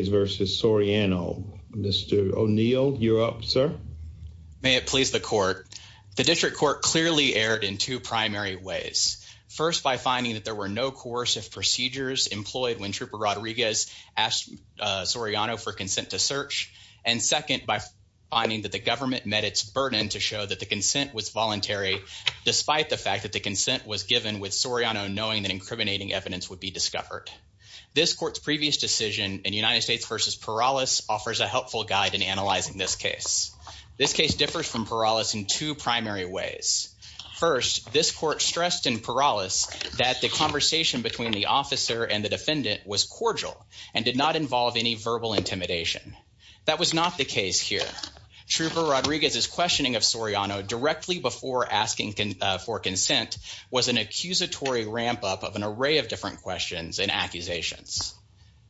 v. Soriano. Mr. O'Neill, you're up, sir. May it please the court. The district court clearly erred in two primary ways. First, by finding that there were no coercive procedures employed when Trooper Rodriguez asked Soriano for consent to search, and second, by finding that the government met its burden to show that the consent was voluntary, despite the fact that the consent was given with Soriano knowing that incriminating evidence would be not voluntary. The case differs from Perales in two primary ways. First, this court stressed in Perales that the conversation between the officer and the defendant was cordial and did not involve any verbal intimidation. That was not the case here. Trooper Rodriguez's questioning of Soriano directly before asking for consent was an accusatory ramp-up of an array of different questions and accusations.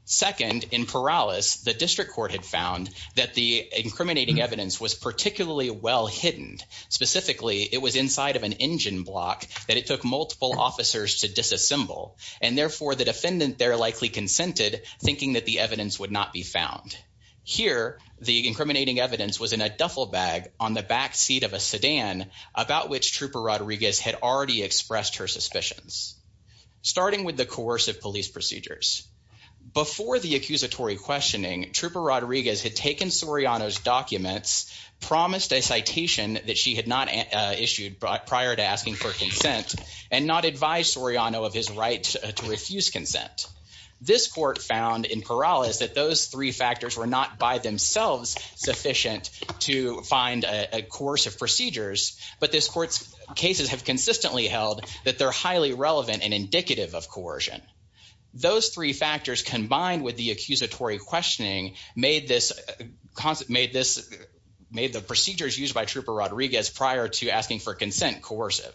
Second, in Perales, the district court had found that the incriminating evidence was particularly well hidden. Specifically, it was inside of an engine block that it took multiple officers to disassemble, and therefore, the defendant there likely consented, thinking that the evidence would not be found. Here, the incriminating evidence was in a duffel bag on the back seat of a sedan, about which Trooper Rodriguez had already her suspicions, starting with the coercive police procedures. Before the accusatory questioning, Trooper Rodriguez had taken Soriano's documents, promised a citation that she had not issued prior to asking for consent, and not advised Soriano of his right to refuse consent. This court found in Perales that those three factors were not by themselves sufficient to find a course of that they're highly relevant and indicative of coercion. Those three factors, combined with the accusatory questioning, made the procedures used by Trooper Rodriguez prior to asking for consent coercive.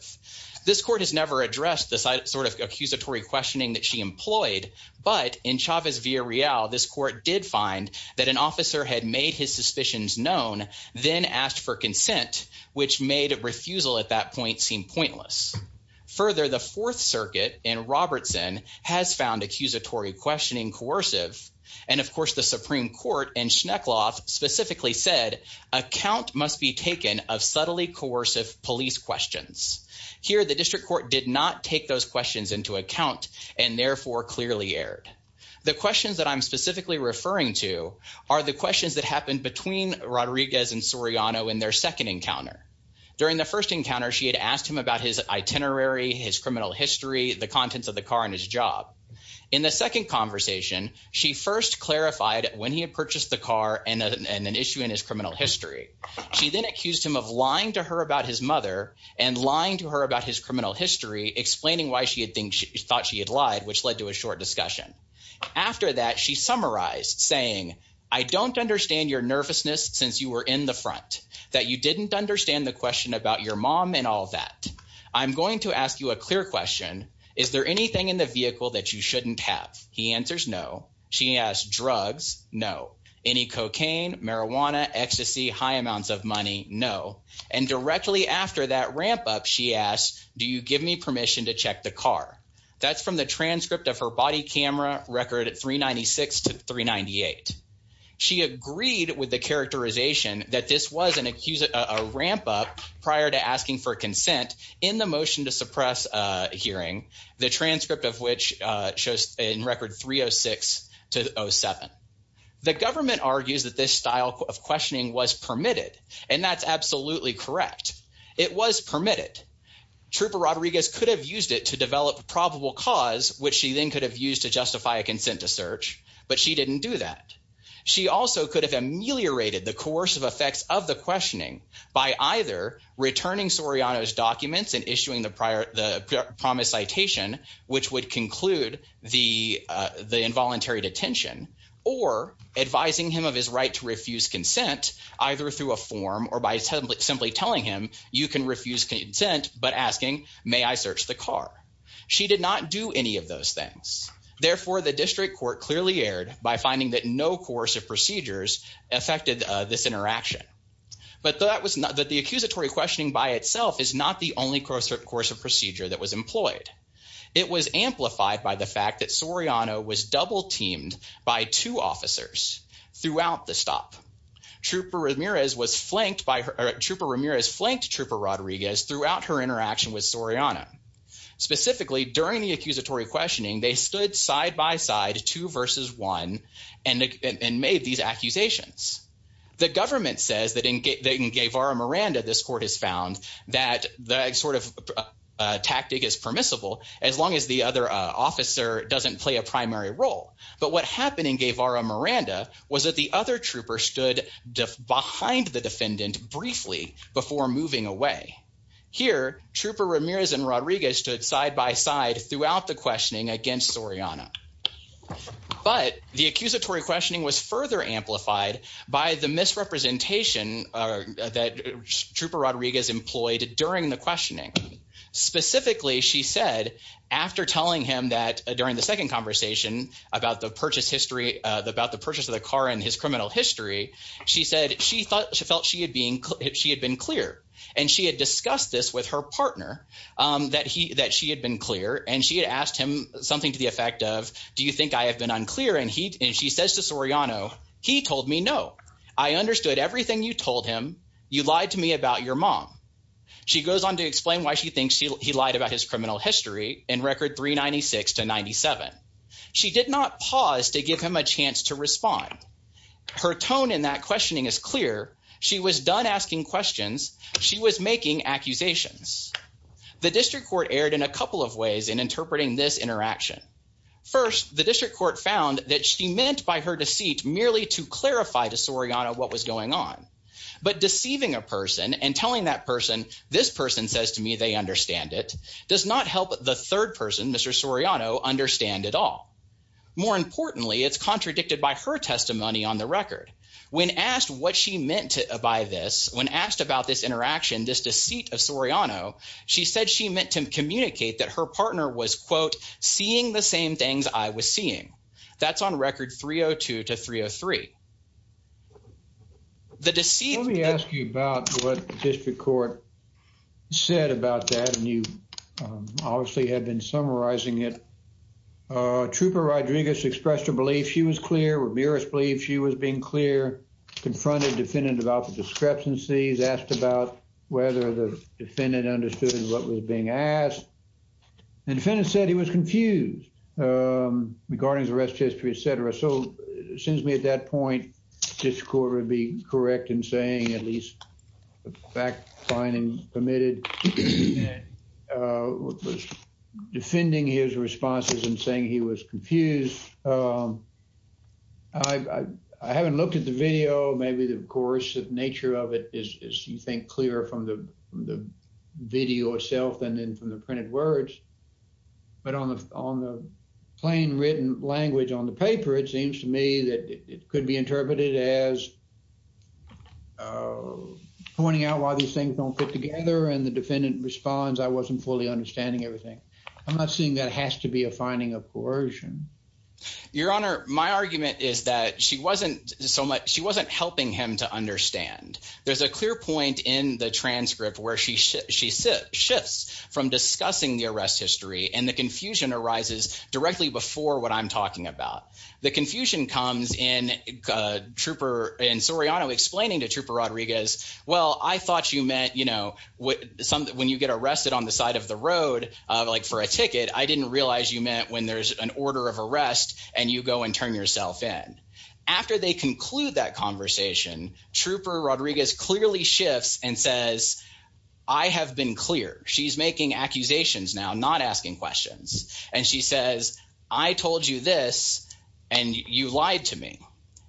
This court has never addressed the sort of accusatory questioning that she employed, but in Chavez v. Arreal, this court did find that an officer had made his suspicions known, then asked for consent, which made a refusal at that point seem pointless. Further, the Fourth Circuit in Robertson has found accusatory questioning coercive, and of course, the Supreme Court in Schneckloff specifically said, a count must be taken of subtly coercive police questions. Here, the district court did not take those questions into account, and therefore clearly erred. The questions that I'm specifically referring to are the questions that happened between Rodriguez and Soriano in their second encounter. During the first encounter, she had asked him about his itinerary, his criminal history, the contents of the car, and his job. In the second conversation, she first clarified when he had purchased the car and an issue in his criminal history. She then accused him of lying to her about his mother and lying to her about his criminal history, explaining why she had thought she had lied, which led to a short discussion. After that, she summarized, saying, I don't understand your nervousness since you were in the front, that you didn't understand the question about your mom and all that. I'm going to ask you a clear question. Is there anything in the vehicle that you shouldn't have? He answers, no. She asked, drugs? No. Any cocaine, marijuana, ecstasy, high amounts of money? No. And directly after that ramp-up, she asked, do you give me permission to check the car? That's from the transcript of her body camera record at 396 to 398. She agreed with the characterization that this was an accuser, a ramp-up prior to asking for consent in the motion to suppress hearing, the transcript of which shows in record 306 to 07. The government argues that this style of questioning was permitted, and that's absolutely correct. It was permitted. Trooper Rodriguez could have used it to develop probable cause, which she then could have used to justify a consent to search, but she didn't do that. She also could have ameliorated the coercive effects of the questioning by either returning Soriano's documents and issuing the prior, the promised citation, which would conclude the, the involuntary detention, or advising him of his right to refuse consent, either through a form or by simply telling him, you can refuse consent, but asking, may I search the car? She did not do any of those things. Therefore, the district court clearly erred by finding that no coercive procedures affected this interaction, but that was not, that the accusatory questioning by itself is not the only course of procedure that was employed. It was amplified by the fact that Soriano was double teamed by two officers throughout the stop. Trooper Ramirez was flanked by her, Trooper Ramirez flanked Trooper Rodriguez throughout her interaction with Soriano. Specifically, during the accusatory questioning, they stood side-by-side, two versus one, and made these accusations. The government says that in Guevara Miranda, this court has found that the sort of tactic is permissible, as long as the other officer doesn't play a primary role, but what happened in Guevara Miranda was that the other Here, Trooper Ramirez and Rodriguez stood side-by-side throughout the questioning against Soriano, but the accusatory questioning was further amplified by the misrepresentation that Trooper Rodriguez employed during the questioning. Specifically, she said, after telling him that during the second conversation about the purchase history, about the purchase of the car and his criminal history, she said she thought, she felt she had been, she had been clear, and she had discussed this with her partner, that he, that she had been clear, and she had asked him something to the effect of, do you think I have been unclear, and he, and she says to Soriano, he told me no. I understood everything you told him. You lied to me about your mom. She goes on to explain why she thinks he lied about his criminal history in record 396 to 97. She did not pause to give him a chance to respond. Her tone in that questioning is clear. She was done asking questions. She was making accusations. The district court erred in a couple of ways in interpreting this interaction. First, the district court found that she meant by her deceit merely to clarify to Soriano what was going on, but deceiving a person and telling that person, this person says to me they understand it, does not help the third person, Mr. Soriano, understand at all. More importantly, it's contradicted by her testimony on the record. When asked what she meant by this, when asked about this interaction, this deceit of Soriano, she said she meant to communicate that her partner was, quote, seeing the same things I was seeing. That's on record 302 to 303. The deceit. Let me ask you about what the district court said about that. And you obviously had been summarizing it. Uh, Trooper Rodriguez expressed her belief she was clear. Ramirez believed she was being clear. Confronted defendant about the discrepancies. Asked about whether the defendant understood what was being asked. And the defendant said he was confused, um, regarding the arrest history, etcetera. So it seems to me at that point, the district court would be correct in saying at least the fact finding permitted. Uh, defending his responses and saying he was confused. Um, I haven't looked at the video. Maybe, of course, the nature of it is you think clear from the video itself and then from the printed words. But on the on the plain written language on the paper, it seems to me that it could be interpreted as, uh, pointing out why these things don't fit together. And the defendant responds. I wasn't fully understanding everything. I'm not seeing that has to be a finding of coercion. Your Honor, my argument is that she wasn't so much. She wasn't helping him to understand. There's a clear point in the transcript where she she shifts from discussing the arrest history, and the confusion arises directly before what I'm talking about. The confusion comes in, uh, trooper and Soriano explaining to Trooper Rodriguez. Well, I thought you meant, you know, when you get arrested on the side of the road like for a ticket, I didn't realize you meant when there's an order of arrest and you go and turn yourself in. After they conclude that conversation, Trooper Rodriguez clearly shifts and says, I have been clear. She's making accusations now, not asking questions. And she says, I told you this and you lied to me.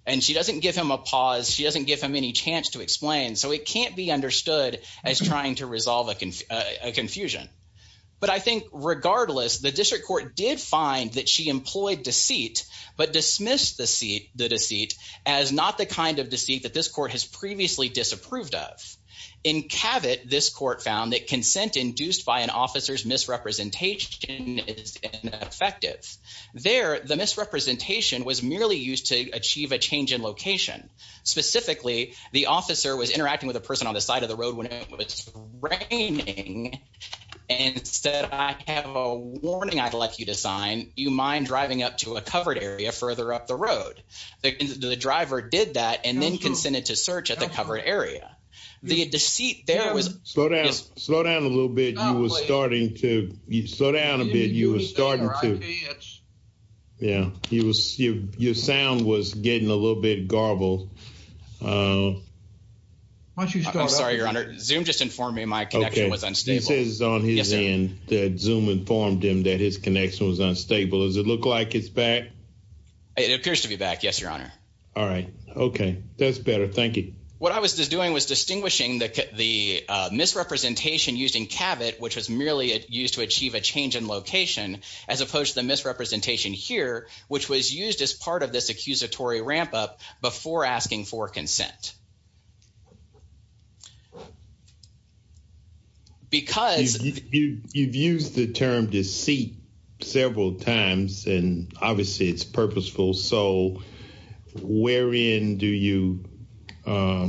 And she doesn't give him a pause. She doesn't give him any chance to explain. So it resolve a confusion. But I think regardless, the district court did find that she employed deceit but dismissed the seat the deceit as not the kind of deceit that this court has previously disapproved of. In Cavett, this court found that consent induced by an officer's misrepresentation is ineffective. There, the misrepresentation was merely used to achieve a change in location. Specifically, the officer was raining and said, I have a warning. I'd like you to sign. You mind driving up to a covered area further up the road? The driver did that and then consented to search at the covered area. The deceit there was slow down, slow down a little bit. You were starting to slow down a bit. You were starting to. Yeah, he was. Your sound was getting a little bit garbled. Uh, why don't you start? I'm sorry, Your Honor. Zoom just informed me my connection was unstable. This is on his end. Zoom informed him that his connection was unstable. Does it look like it's back? It appears to be back. Yes, Your Honor. All right. Okay, that's better. Thank you. What I was doing was distinguishing the misrepresentation used in Cavett, which was merely used to achieve a change in location as opposed to the misrepresentation here, which was used as part of this accusatory ramp up before asking for Yeah. Because you've used the term deceit several times, and obviously it's purposeful. So where in do you, uh,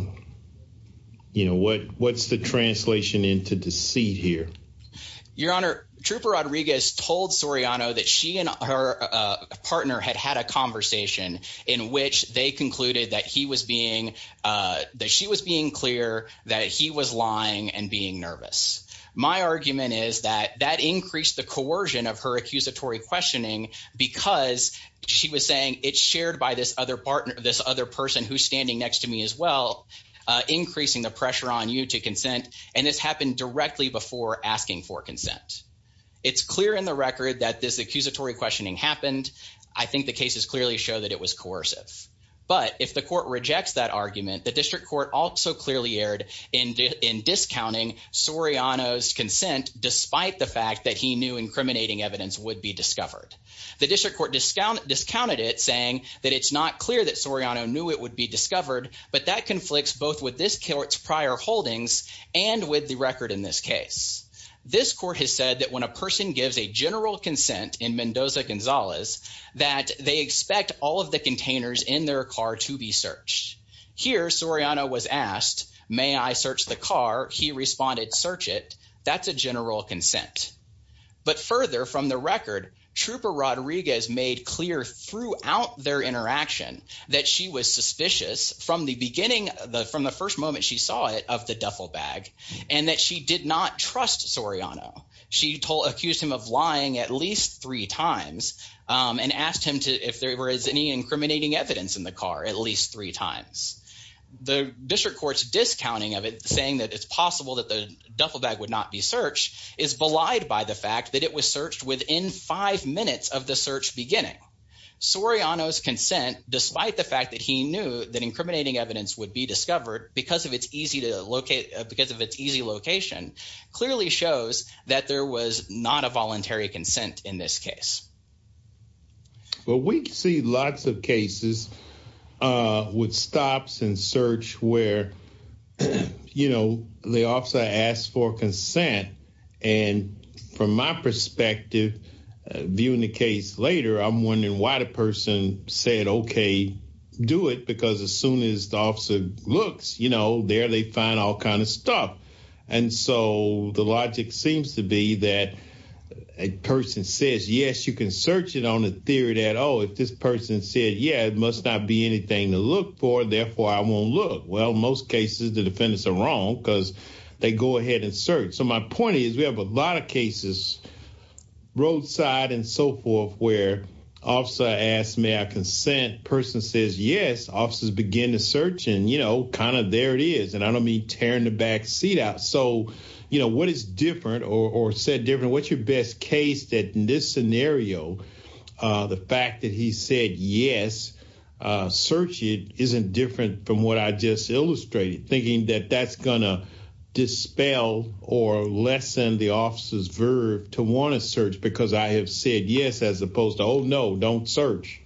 you know what? What's the translation into deceit here? Your Honor, Trooper Rodriguez told Soriano that she and her partner had had a conversation in which they concluded that he was being, uh, that she was being clear that he was lying and being nervous. My argument is that that increased the coercion of her accusatory questioning because she was saying it's shared by this other partner, this other person who's standing next to me as well, uh, increasing the pressure on you to consent. And this happened directly before asking for consent. It's clear in the record that this accusatory questioning happened. I think the cases clearly show that it was coercive. But if the court rejects that argument, the district court also clearly aired in discounting Soriano's consent, despite the fact that he knew incriminating evidence would be discovered. The district court discount discounted it, saying that it's not clear that Soriano knew it would be discovered. But that conflicts both with this court's prior holdings and with the record. In this case, this court has said that when a person gives a general consent in Mendoza Gonzalez that they expect all of the containers in their car to be searched. Here, Soriano was asked, May I search the car? He responded, Search it. That's a general consent. But further from the record, Trooper Rodriguez made clear throughout their interaction that she was suspicious from the beginning, from the first moment she saw it of the duffel bag and that she did not trust Soriano. She told accused him of lying at least three times, um, and asked him to if there is any incriminating evidence in the car at least three times. The district court's discounting of it, saying that it's possible that the duffel bag would not be searched, is belied by the fact that it was searched within five minutes of the search beginning. Soriano's consent, despite the fact that he knew that incriminating evidence would be discovered because of its easy to locate because of its easy location, clearly shows that there was not a voluntary consent in this case. But we see lots of cases, uh, with stops and search where, you know, the officer asked for consent. And from my perspective, viewing the case later, I'm wondering why the person said, Okay, do it. Because as soon as the officer looks, you know, there they find all kinds of stuff. And so the can search it on the theory that, oh, if this person said, Yeah, it must not be anything to look for. Therefore, I won't look. Well, most cases, the defendants are wrong because they go ahead and search. So my point is, we have a lot of cases, roadside and so forth, where officer asked me, I consent person says yes, officers begin to search and, you know, kind of there it is. And I don't mean tearing the back seat out. So, you know, what is different or said different? What's your best case that in this scenario, the fact that he said yes, search it isn't different from what I just illustrated, thinking that that's gonna dispel or lessen the officer's verb to want to search because I have said yes, as opposed to Oh, no, don't search.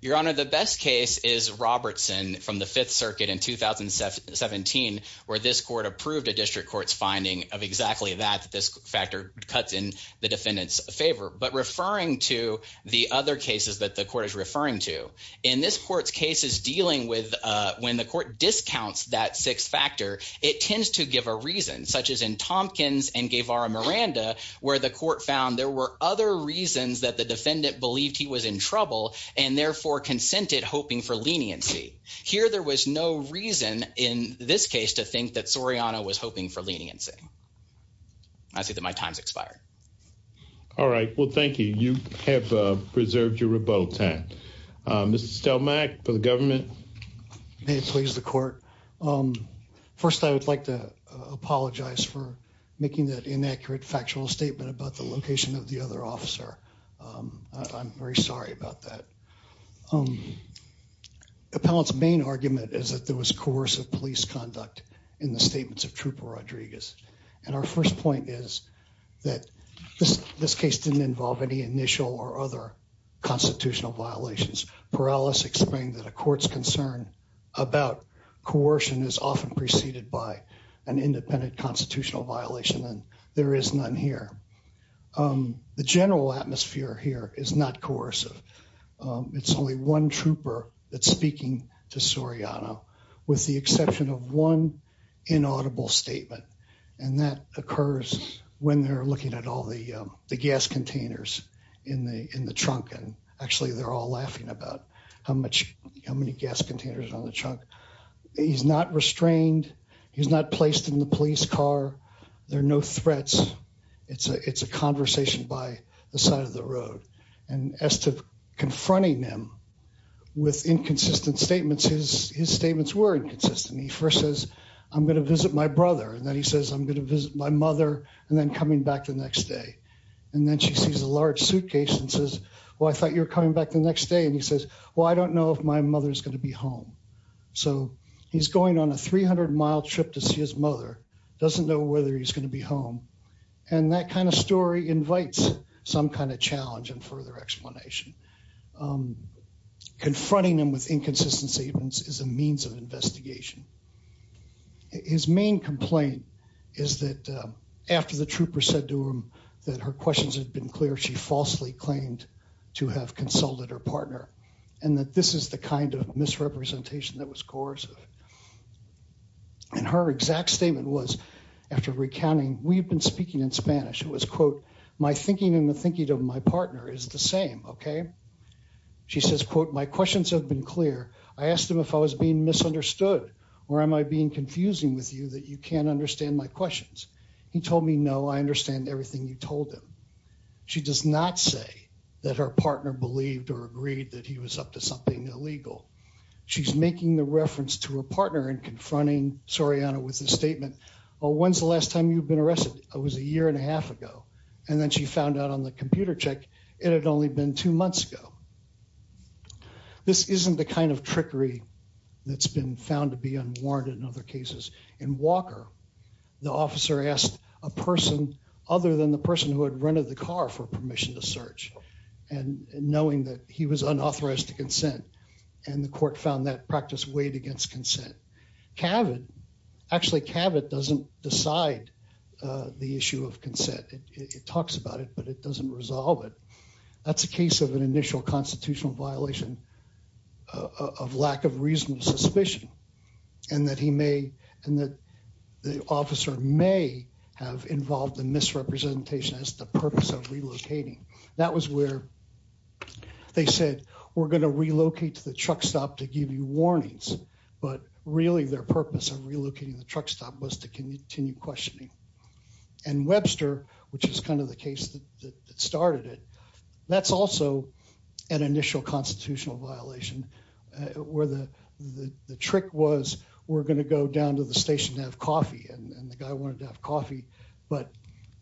Your Honor, the best case is Robertson from the Fifth Circuit in 2017, where this court approved a district court's finding of exactly that this factor cuts in the defendant's favor, but referring to the other cases that the court is referring to in this court's cases dealing with when the court discounts that six factor, it tends to give a reason, such as in Tompkins and gave our Miranda, where the court found there were other reasons that the defendant believed he was in trouble and therefore consented, hoping for that Soriano was hoping for leniency. I see that my time's expired. All right. Well, thank you. You have preserved your rebuttal time. Mr. Stelmack for the government. May it please the court. First, I would like to apologize for making that inaccurate factual statement about the location of the other officer. I'm very sorry about that. Appellant's main argument is that there was coercive police conduct in the statements of Trooper Rodriguez. And our first point is that this case didn't involve any initial or other constitutional violations. Perales explained that a court's concern about coercion is often preceded by an independent constitutional violation, and there is none here. Um, the general atmosphere here is not coercive. It's only one option of one inaudible statement, and that occurs when they're looking at all the gas containers in the in the trunk. And actually, they're all laughing about how much how many gas containers on the trunk. He's not restrained. He's not placed in the police car. There are no threats. It's a It's a conversation by the side of the road and as to confronting them with inconsistent statements, his statements were inconsistent. He first says, I'm gonna visit my brother, and then he says, I'm gonna visit my mother and then coming back the next day. And then she sees a large suitcase and says, Well, I thought you're coming back the next day. And he says, Well, I don't know if my mother's gonna be home. So he's going on a 300 mile trip to see his mother doesn't know whether he's gonna be home. And that kind of story invites some kind of is a means of investigation. His main complaint is that after the trooper said to him that her questions have been clear, she falsely claimed to have consulted her partner and that this is the kind of misrepresentation that was coercive. And her exact statement was after recounting, we've been speaking in Spanish. It was, quote, My thinking in the thinking of my partner is the same. Okay? She says, quote, My questions have been clear. I asked him if I was being misunderstood or am I being confusing with you that you can't understand my questions? He told me No, I understand everything you told him. She does not say that her partner believed or agreed that he was up to something illegal. She's making the reference to her partner and confronting Soriana with a statement. When's the last time you've been arrested? I was a year and a half ago, and then she found out on the computer check. It had only been two months ago. This isn't the kind of trickery that's been found to be unwarranted in other cases. In Walker, the officer asked a person other than the person who had rented the car for permission to search and knowing that he was unauthorized to consent, and the court found that practice weighed against consent. Cavett actually Cavett doesn't decide the issue of consent. It talks about it, but it doesn't resolve it. That's a case of an initial constitutional violation of lack of reasonable suspicion and that he may and that the officer may have involved in misrepresentation as the purpose of relocating. That was where they said we're going to relocate to the truck stop to give you warnings. But really, their purpose of relocating the truck stop was to continue questioning and Webster, which is kind of the case that started it. That's also an initial constitutional violation where the trick was we're going to go down to the station to have coffee, and the guy wanted to have coffee, but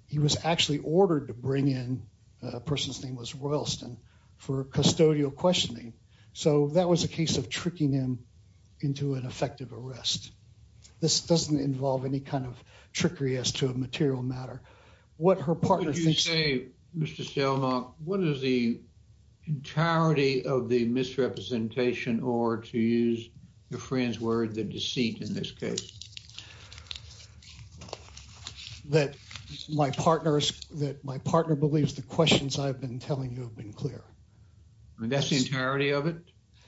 he was actually ordered to bring in a person's name was Royalston for custodial questioning. So that was a case of tricking him into an effective arrest. This doesn't involve any kind of trickery as to a material matter. What her partner thinks, Mr. Selma, what is the entirety of the misrepresentation or to use your friend's word, the deceit in this case that my partners that my partner believes the questions I've been telling you have been clear. That's the entirety of it.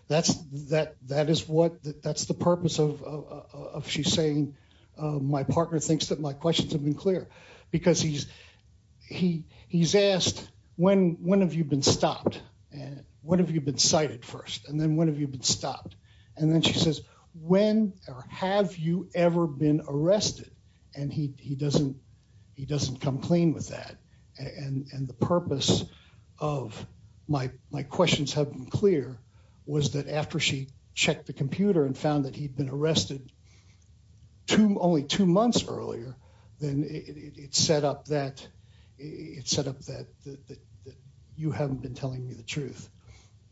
That's that. That is what? That's the purpose of of she's saying. My partner thinks that my questions have been clear because he's he he's asked when when have you been stopped? What have you been cited first? And then when have you been stopped? And then she says, When have you ever been arrested? And he doesn't. He doesn't come clean with that. And the purpose of my questions have been was that after she checked the computer and found that he'd been arrested to only two months earlier than it set up that it set up that you haven't been telling me the truth.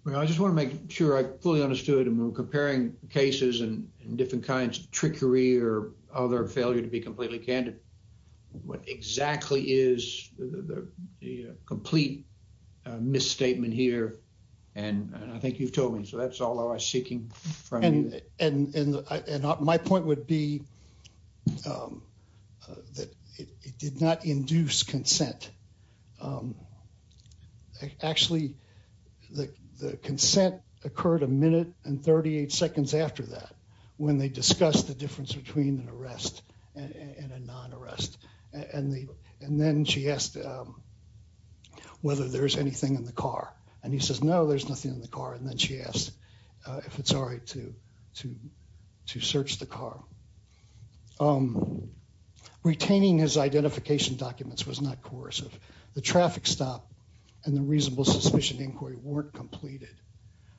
I just want to make sure I fully understood and we're comparing cases and different kinds of trickery or other failure to be completely candid. What exactly is the complete misstatement here? And I think you've told me. So that's all I was seeking from you. And my point would be, um, that it did not induce consent. Um, actually, the consent occurred a minute and 38 seconds after that, when they discussed the difference between an arrest and a non arrest. And then she asked, um, whether there's anything in the car. And he says, No, there's nothing in the car. And then she asked if it's all right to to to search the car. Um, retaining his identification documents was not coercive. The traffic stop and the reasonable suspicion inquiry weren't completed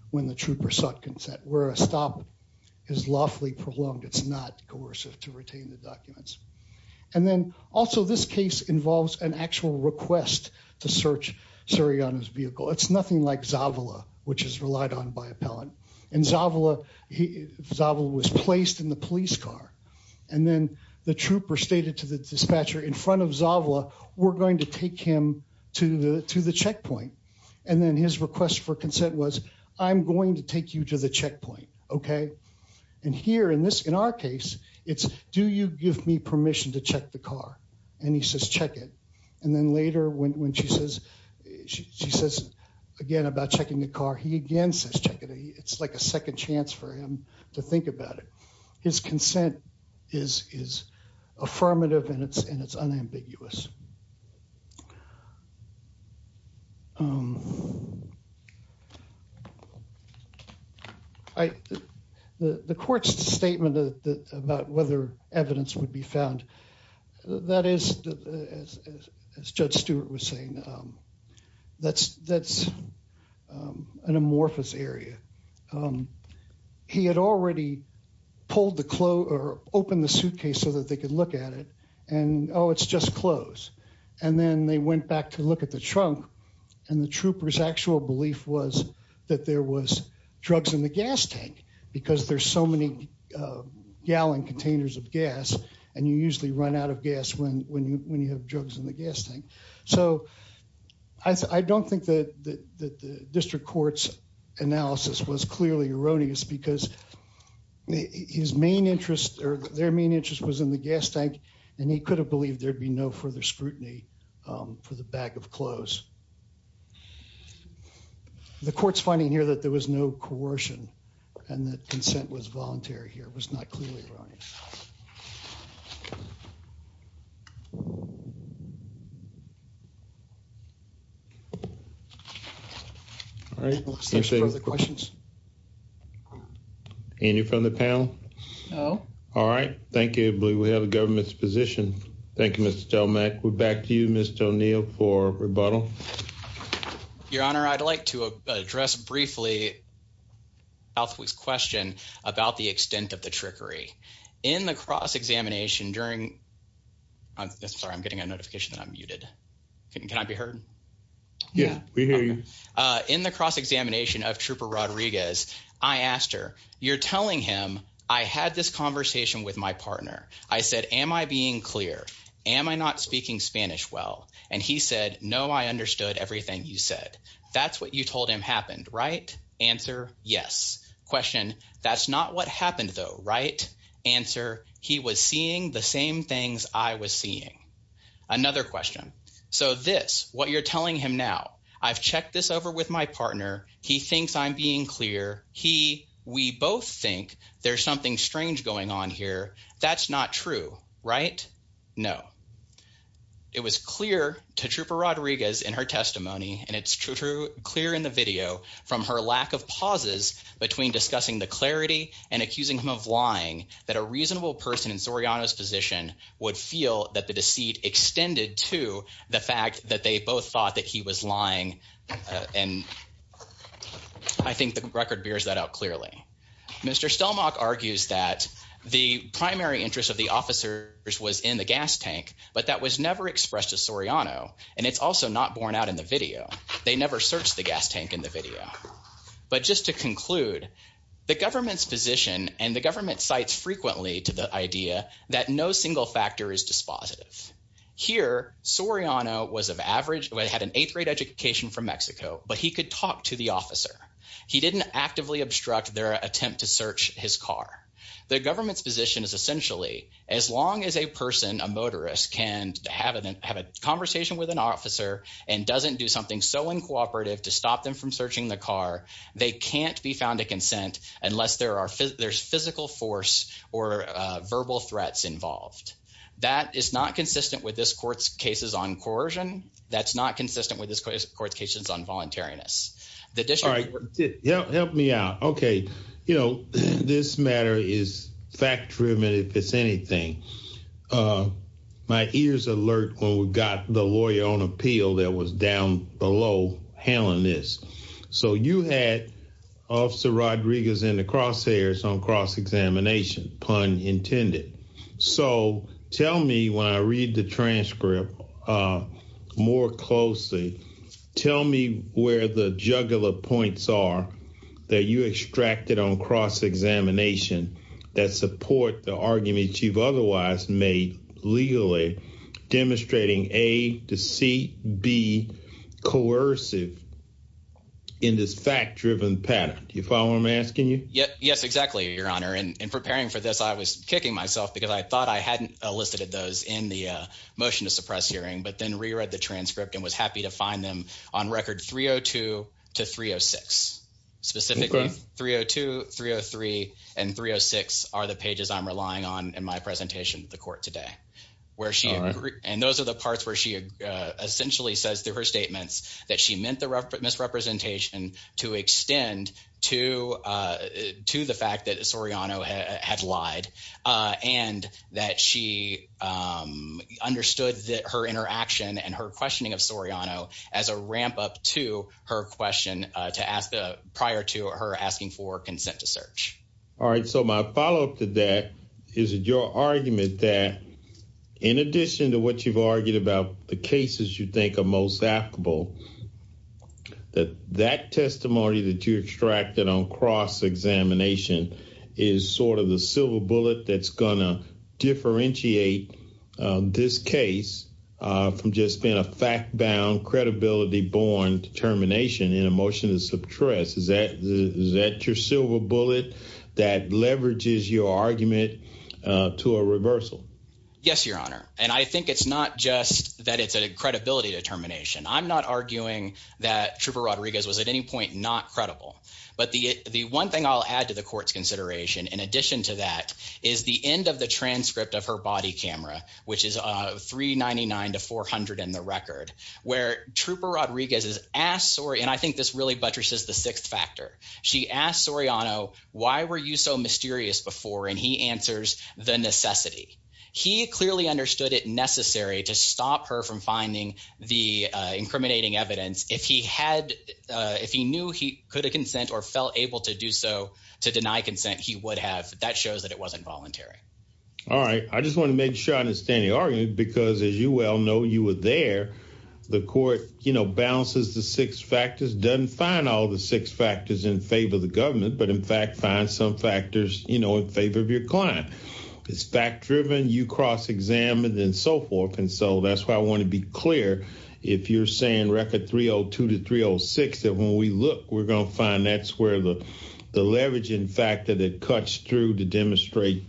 when the trooper sought consent, where a stop is lawfully prolonged. It's not coercive to retain the documents. And then also, this case involves an actual request to search Surrey on his vehicle. It's nothing like Zavala, which is relied on by appellant and Zavala. Zavala was placed in the police car. And then the trooper stated to the dispatcher in front of Zavala, we're going to take him to the to the checkpoint. And then his request for consent was I'm going to take you to the checkpoint. Okay. And here in this, in our case, it's do you give me permission to check the car? And he says, check it. And then later, when she says she says again about checking the car, he again says, check it. It's like a second chance for him to think about it. His consent is is affirmative, and it's and it's unambiguous. Um, I the court's statement about whether evidence would be found. That is, as Judge Stewart was saying, um, that's that's, um, an amorphous area. Um, he had already pulled the clothes or opened the suitcase so that they could look at it. And, oh, it's just clothes. And then they went back to look at the trunk, and the troopers actual belief was that there was drugs in the gas tank because there's so many gallon containers of gas, and you usually run out of gas when when you when you have drugs in the gas tank. So I don't think that the district court's analysis was clearly erroneous because his main interest or their main interest was in the gas tank, and he could have believed there'd be no further scrutiny for the bag of clothes. The court's finding here that there was no coercion and that consent was voluntary here was not clearly running. Mhm. All right. Questions. Any from the panel? Oh, all right. Thank you. We have a government's position. Thank you, Mr Stelmack. We're back to you, Mr O'Neill for rebuttal. Your Honor, I'd like to address briefly outweighs question about the extent of the trickery in the cross examination during I'm sorry. I'm getting a notification that I'm muted. Can I be heard? Yeah, we hear you in the cross examination of Trooper Rodriguez. I asked her. You're telling him I had this conversation with my partner. I said, Am I being clear? Am I not speaking Spanish? Well, and he said, No, I understood everything you said. That's what you told him happened, right? Answer. Yes. Question. That's not what happened, though. Right answer. He was seeing the same things I was seeing. Another question. So this what you're telling him now I've checked this over with my partner. He thinks I'm being clear. He we both think there's something strange going on here. That's not true, right? No, it was clear to Trooper Rodriguez in her testimony, and it's true. Clear in the video from her lack of pauses between discussing the clarity and reasonable person in Soriano's position would feel that the deceit extended to the fact that they both thought that he was lying. And I think the record bears that out clearly. Mr Stelmach argues that the primary interest of the officers was in the gas tank, but that was never expressed to Soriano. And it's also not borne out in the video. They never searched the gas tank in the video. But just to conclude the government's position and the lead to the idea that no single factor is dispositive here. Soriano was of average. We had an eighth grade education from Mexico, but he could talk to the officer. He didn't actively obstruct their attempt to search his car. The government's position is essentially as long as a person, a motorist can have a have a conversation with an officer and doesn't do something so incooperative to stop them from searching the car. They can't be on to consent unless there are there's physical force or verbal threats involved. That is not consistent with this court's cases on coercion. That's not consistent with this court's cases on voluntariness. All right, help me out. Okay. You know, this matter is fact driven if it's anything. Uh, my ears alert when we got the lawyer on appeal that was down below handling this. So you had Officer Rodriguez in the crosshairs on cross examination, pun intended. So tell me when I read the transcript, uh, more closely. Tell me where the jugular points are that you extracted on cross examination that support the arguments you've otherwise made legally demonstrating a deceit be coercive in this fact driven pattern. You follow him asking you? Yes, exactly. Your honor. And in preparing for this, I was kicking myself because I thought I hadn't elicited those in the motion to suppress hearing, but then re read the transcript and was happy to find them on record 302 to 306 specifically 302 303 and 306 are the pages I'm relying on in my presentation to the court today where she and those are the parts where she essentially says through her statements that she meant the misrepresentation to extend to, uh, to the fact that Soriano had lied, uh, and that she, um, understood that her interaction and her questioning of Soriano as a ramp up to her question to ask prior to her asking for consent to search. All right. So my follow up to that is your argument that in addition to what you've argued about the cases you think of most applicable that that testimony that you extracted on cross examination is sort of the silver bullet that's gonna differentiate this case from just being a fact bound credibility born determination in a motion to suppress. Is that is that your silver bullet that leverages your argument to a reversal? Yes, your honor. And I think it's not just that it's a credibility determination. I'm not arguing that Trooper Rodriguez was at any point not credible. But the one thing I'll add to the court's consideration in addition to that is the end of the transcript of her body camera, which is 399 to 400 in the record where Trooper Rodriguez is asked sorry, and I think this really buttresses the sixth factor. She asked Soriano, why were you so mysterious before? And he answers the necessity. He clearly understood it necessary to stop her from finding the incriminating evidence. If he had, if he knew he could have consent or felt able to do so to deny consent, he would have. That shows that it wasn't voluntary. All right. I just want to make sure I understand the argument because, as you well know, you were there. The court, you know, balances the six factors, doesn't find all the six factors in favor of the government, but in fact, find some you cross examined and so forth. And so that's why I want to be clear. If you're saying record 302 to 306 that when we look, we're gonna find that's where the the leveraging factor that cuts through to demonstrate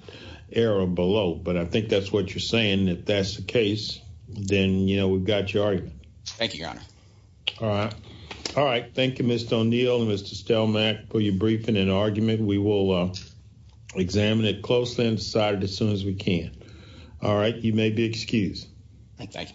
error below. But I think that's what you're saying. If that's the case, then, you know, we've got your argument. Thank you, Your Honor. All right. All right. Thank you, Mr O'Neill and Mr Stelmack for your briefing and argument. We will examine it closely and decided as soon as we can. All right. You may be excused. Thank you.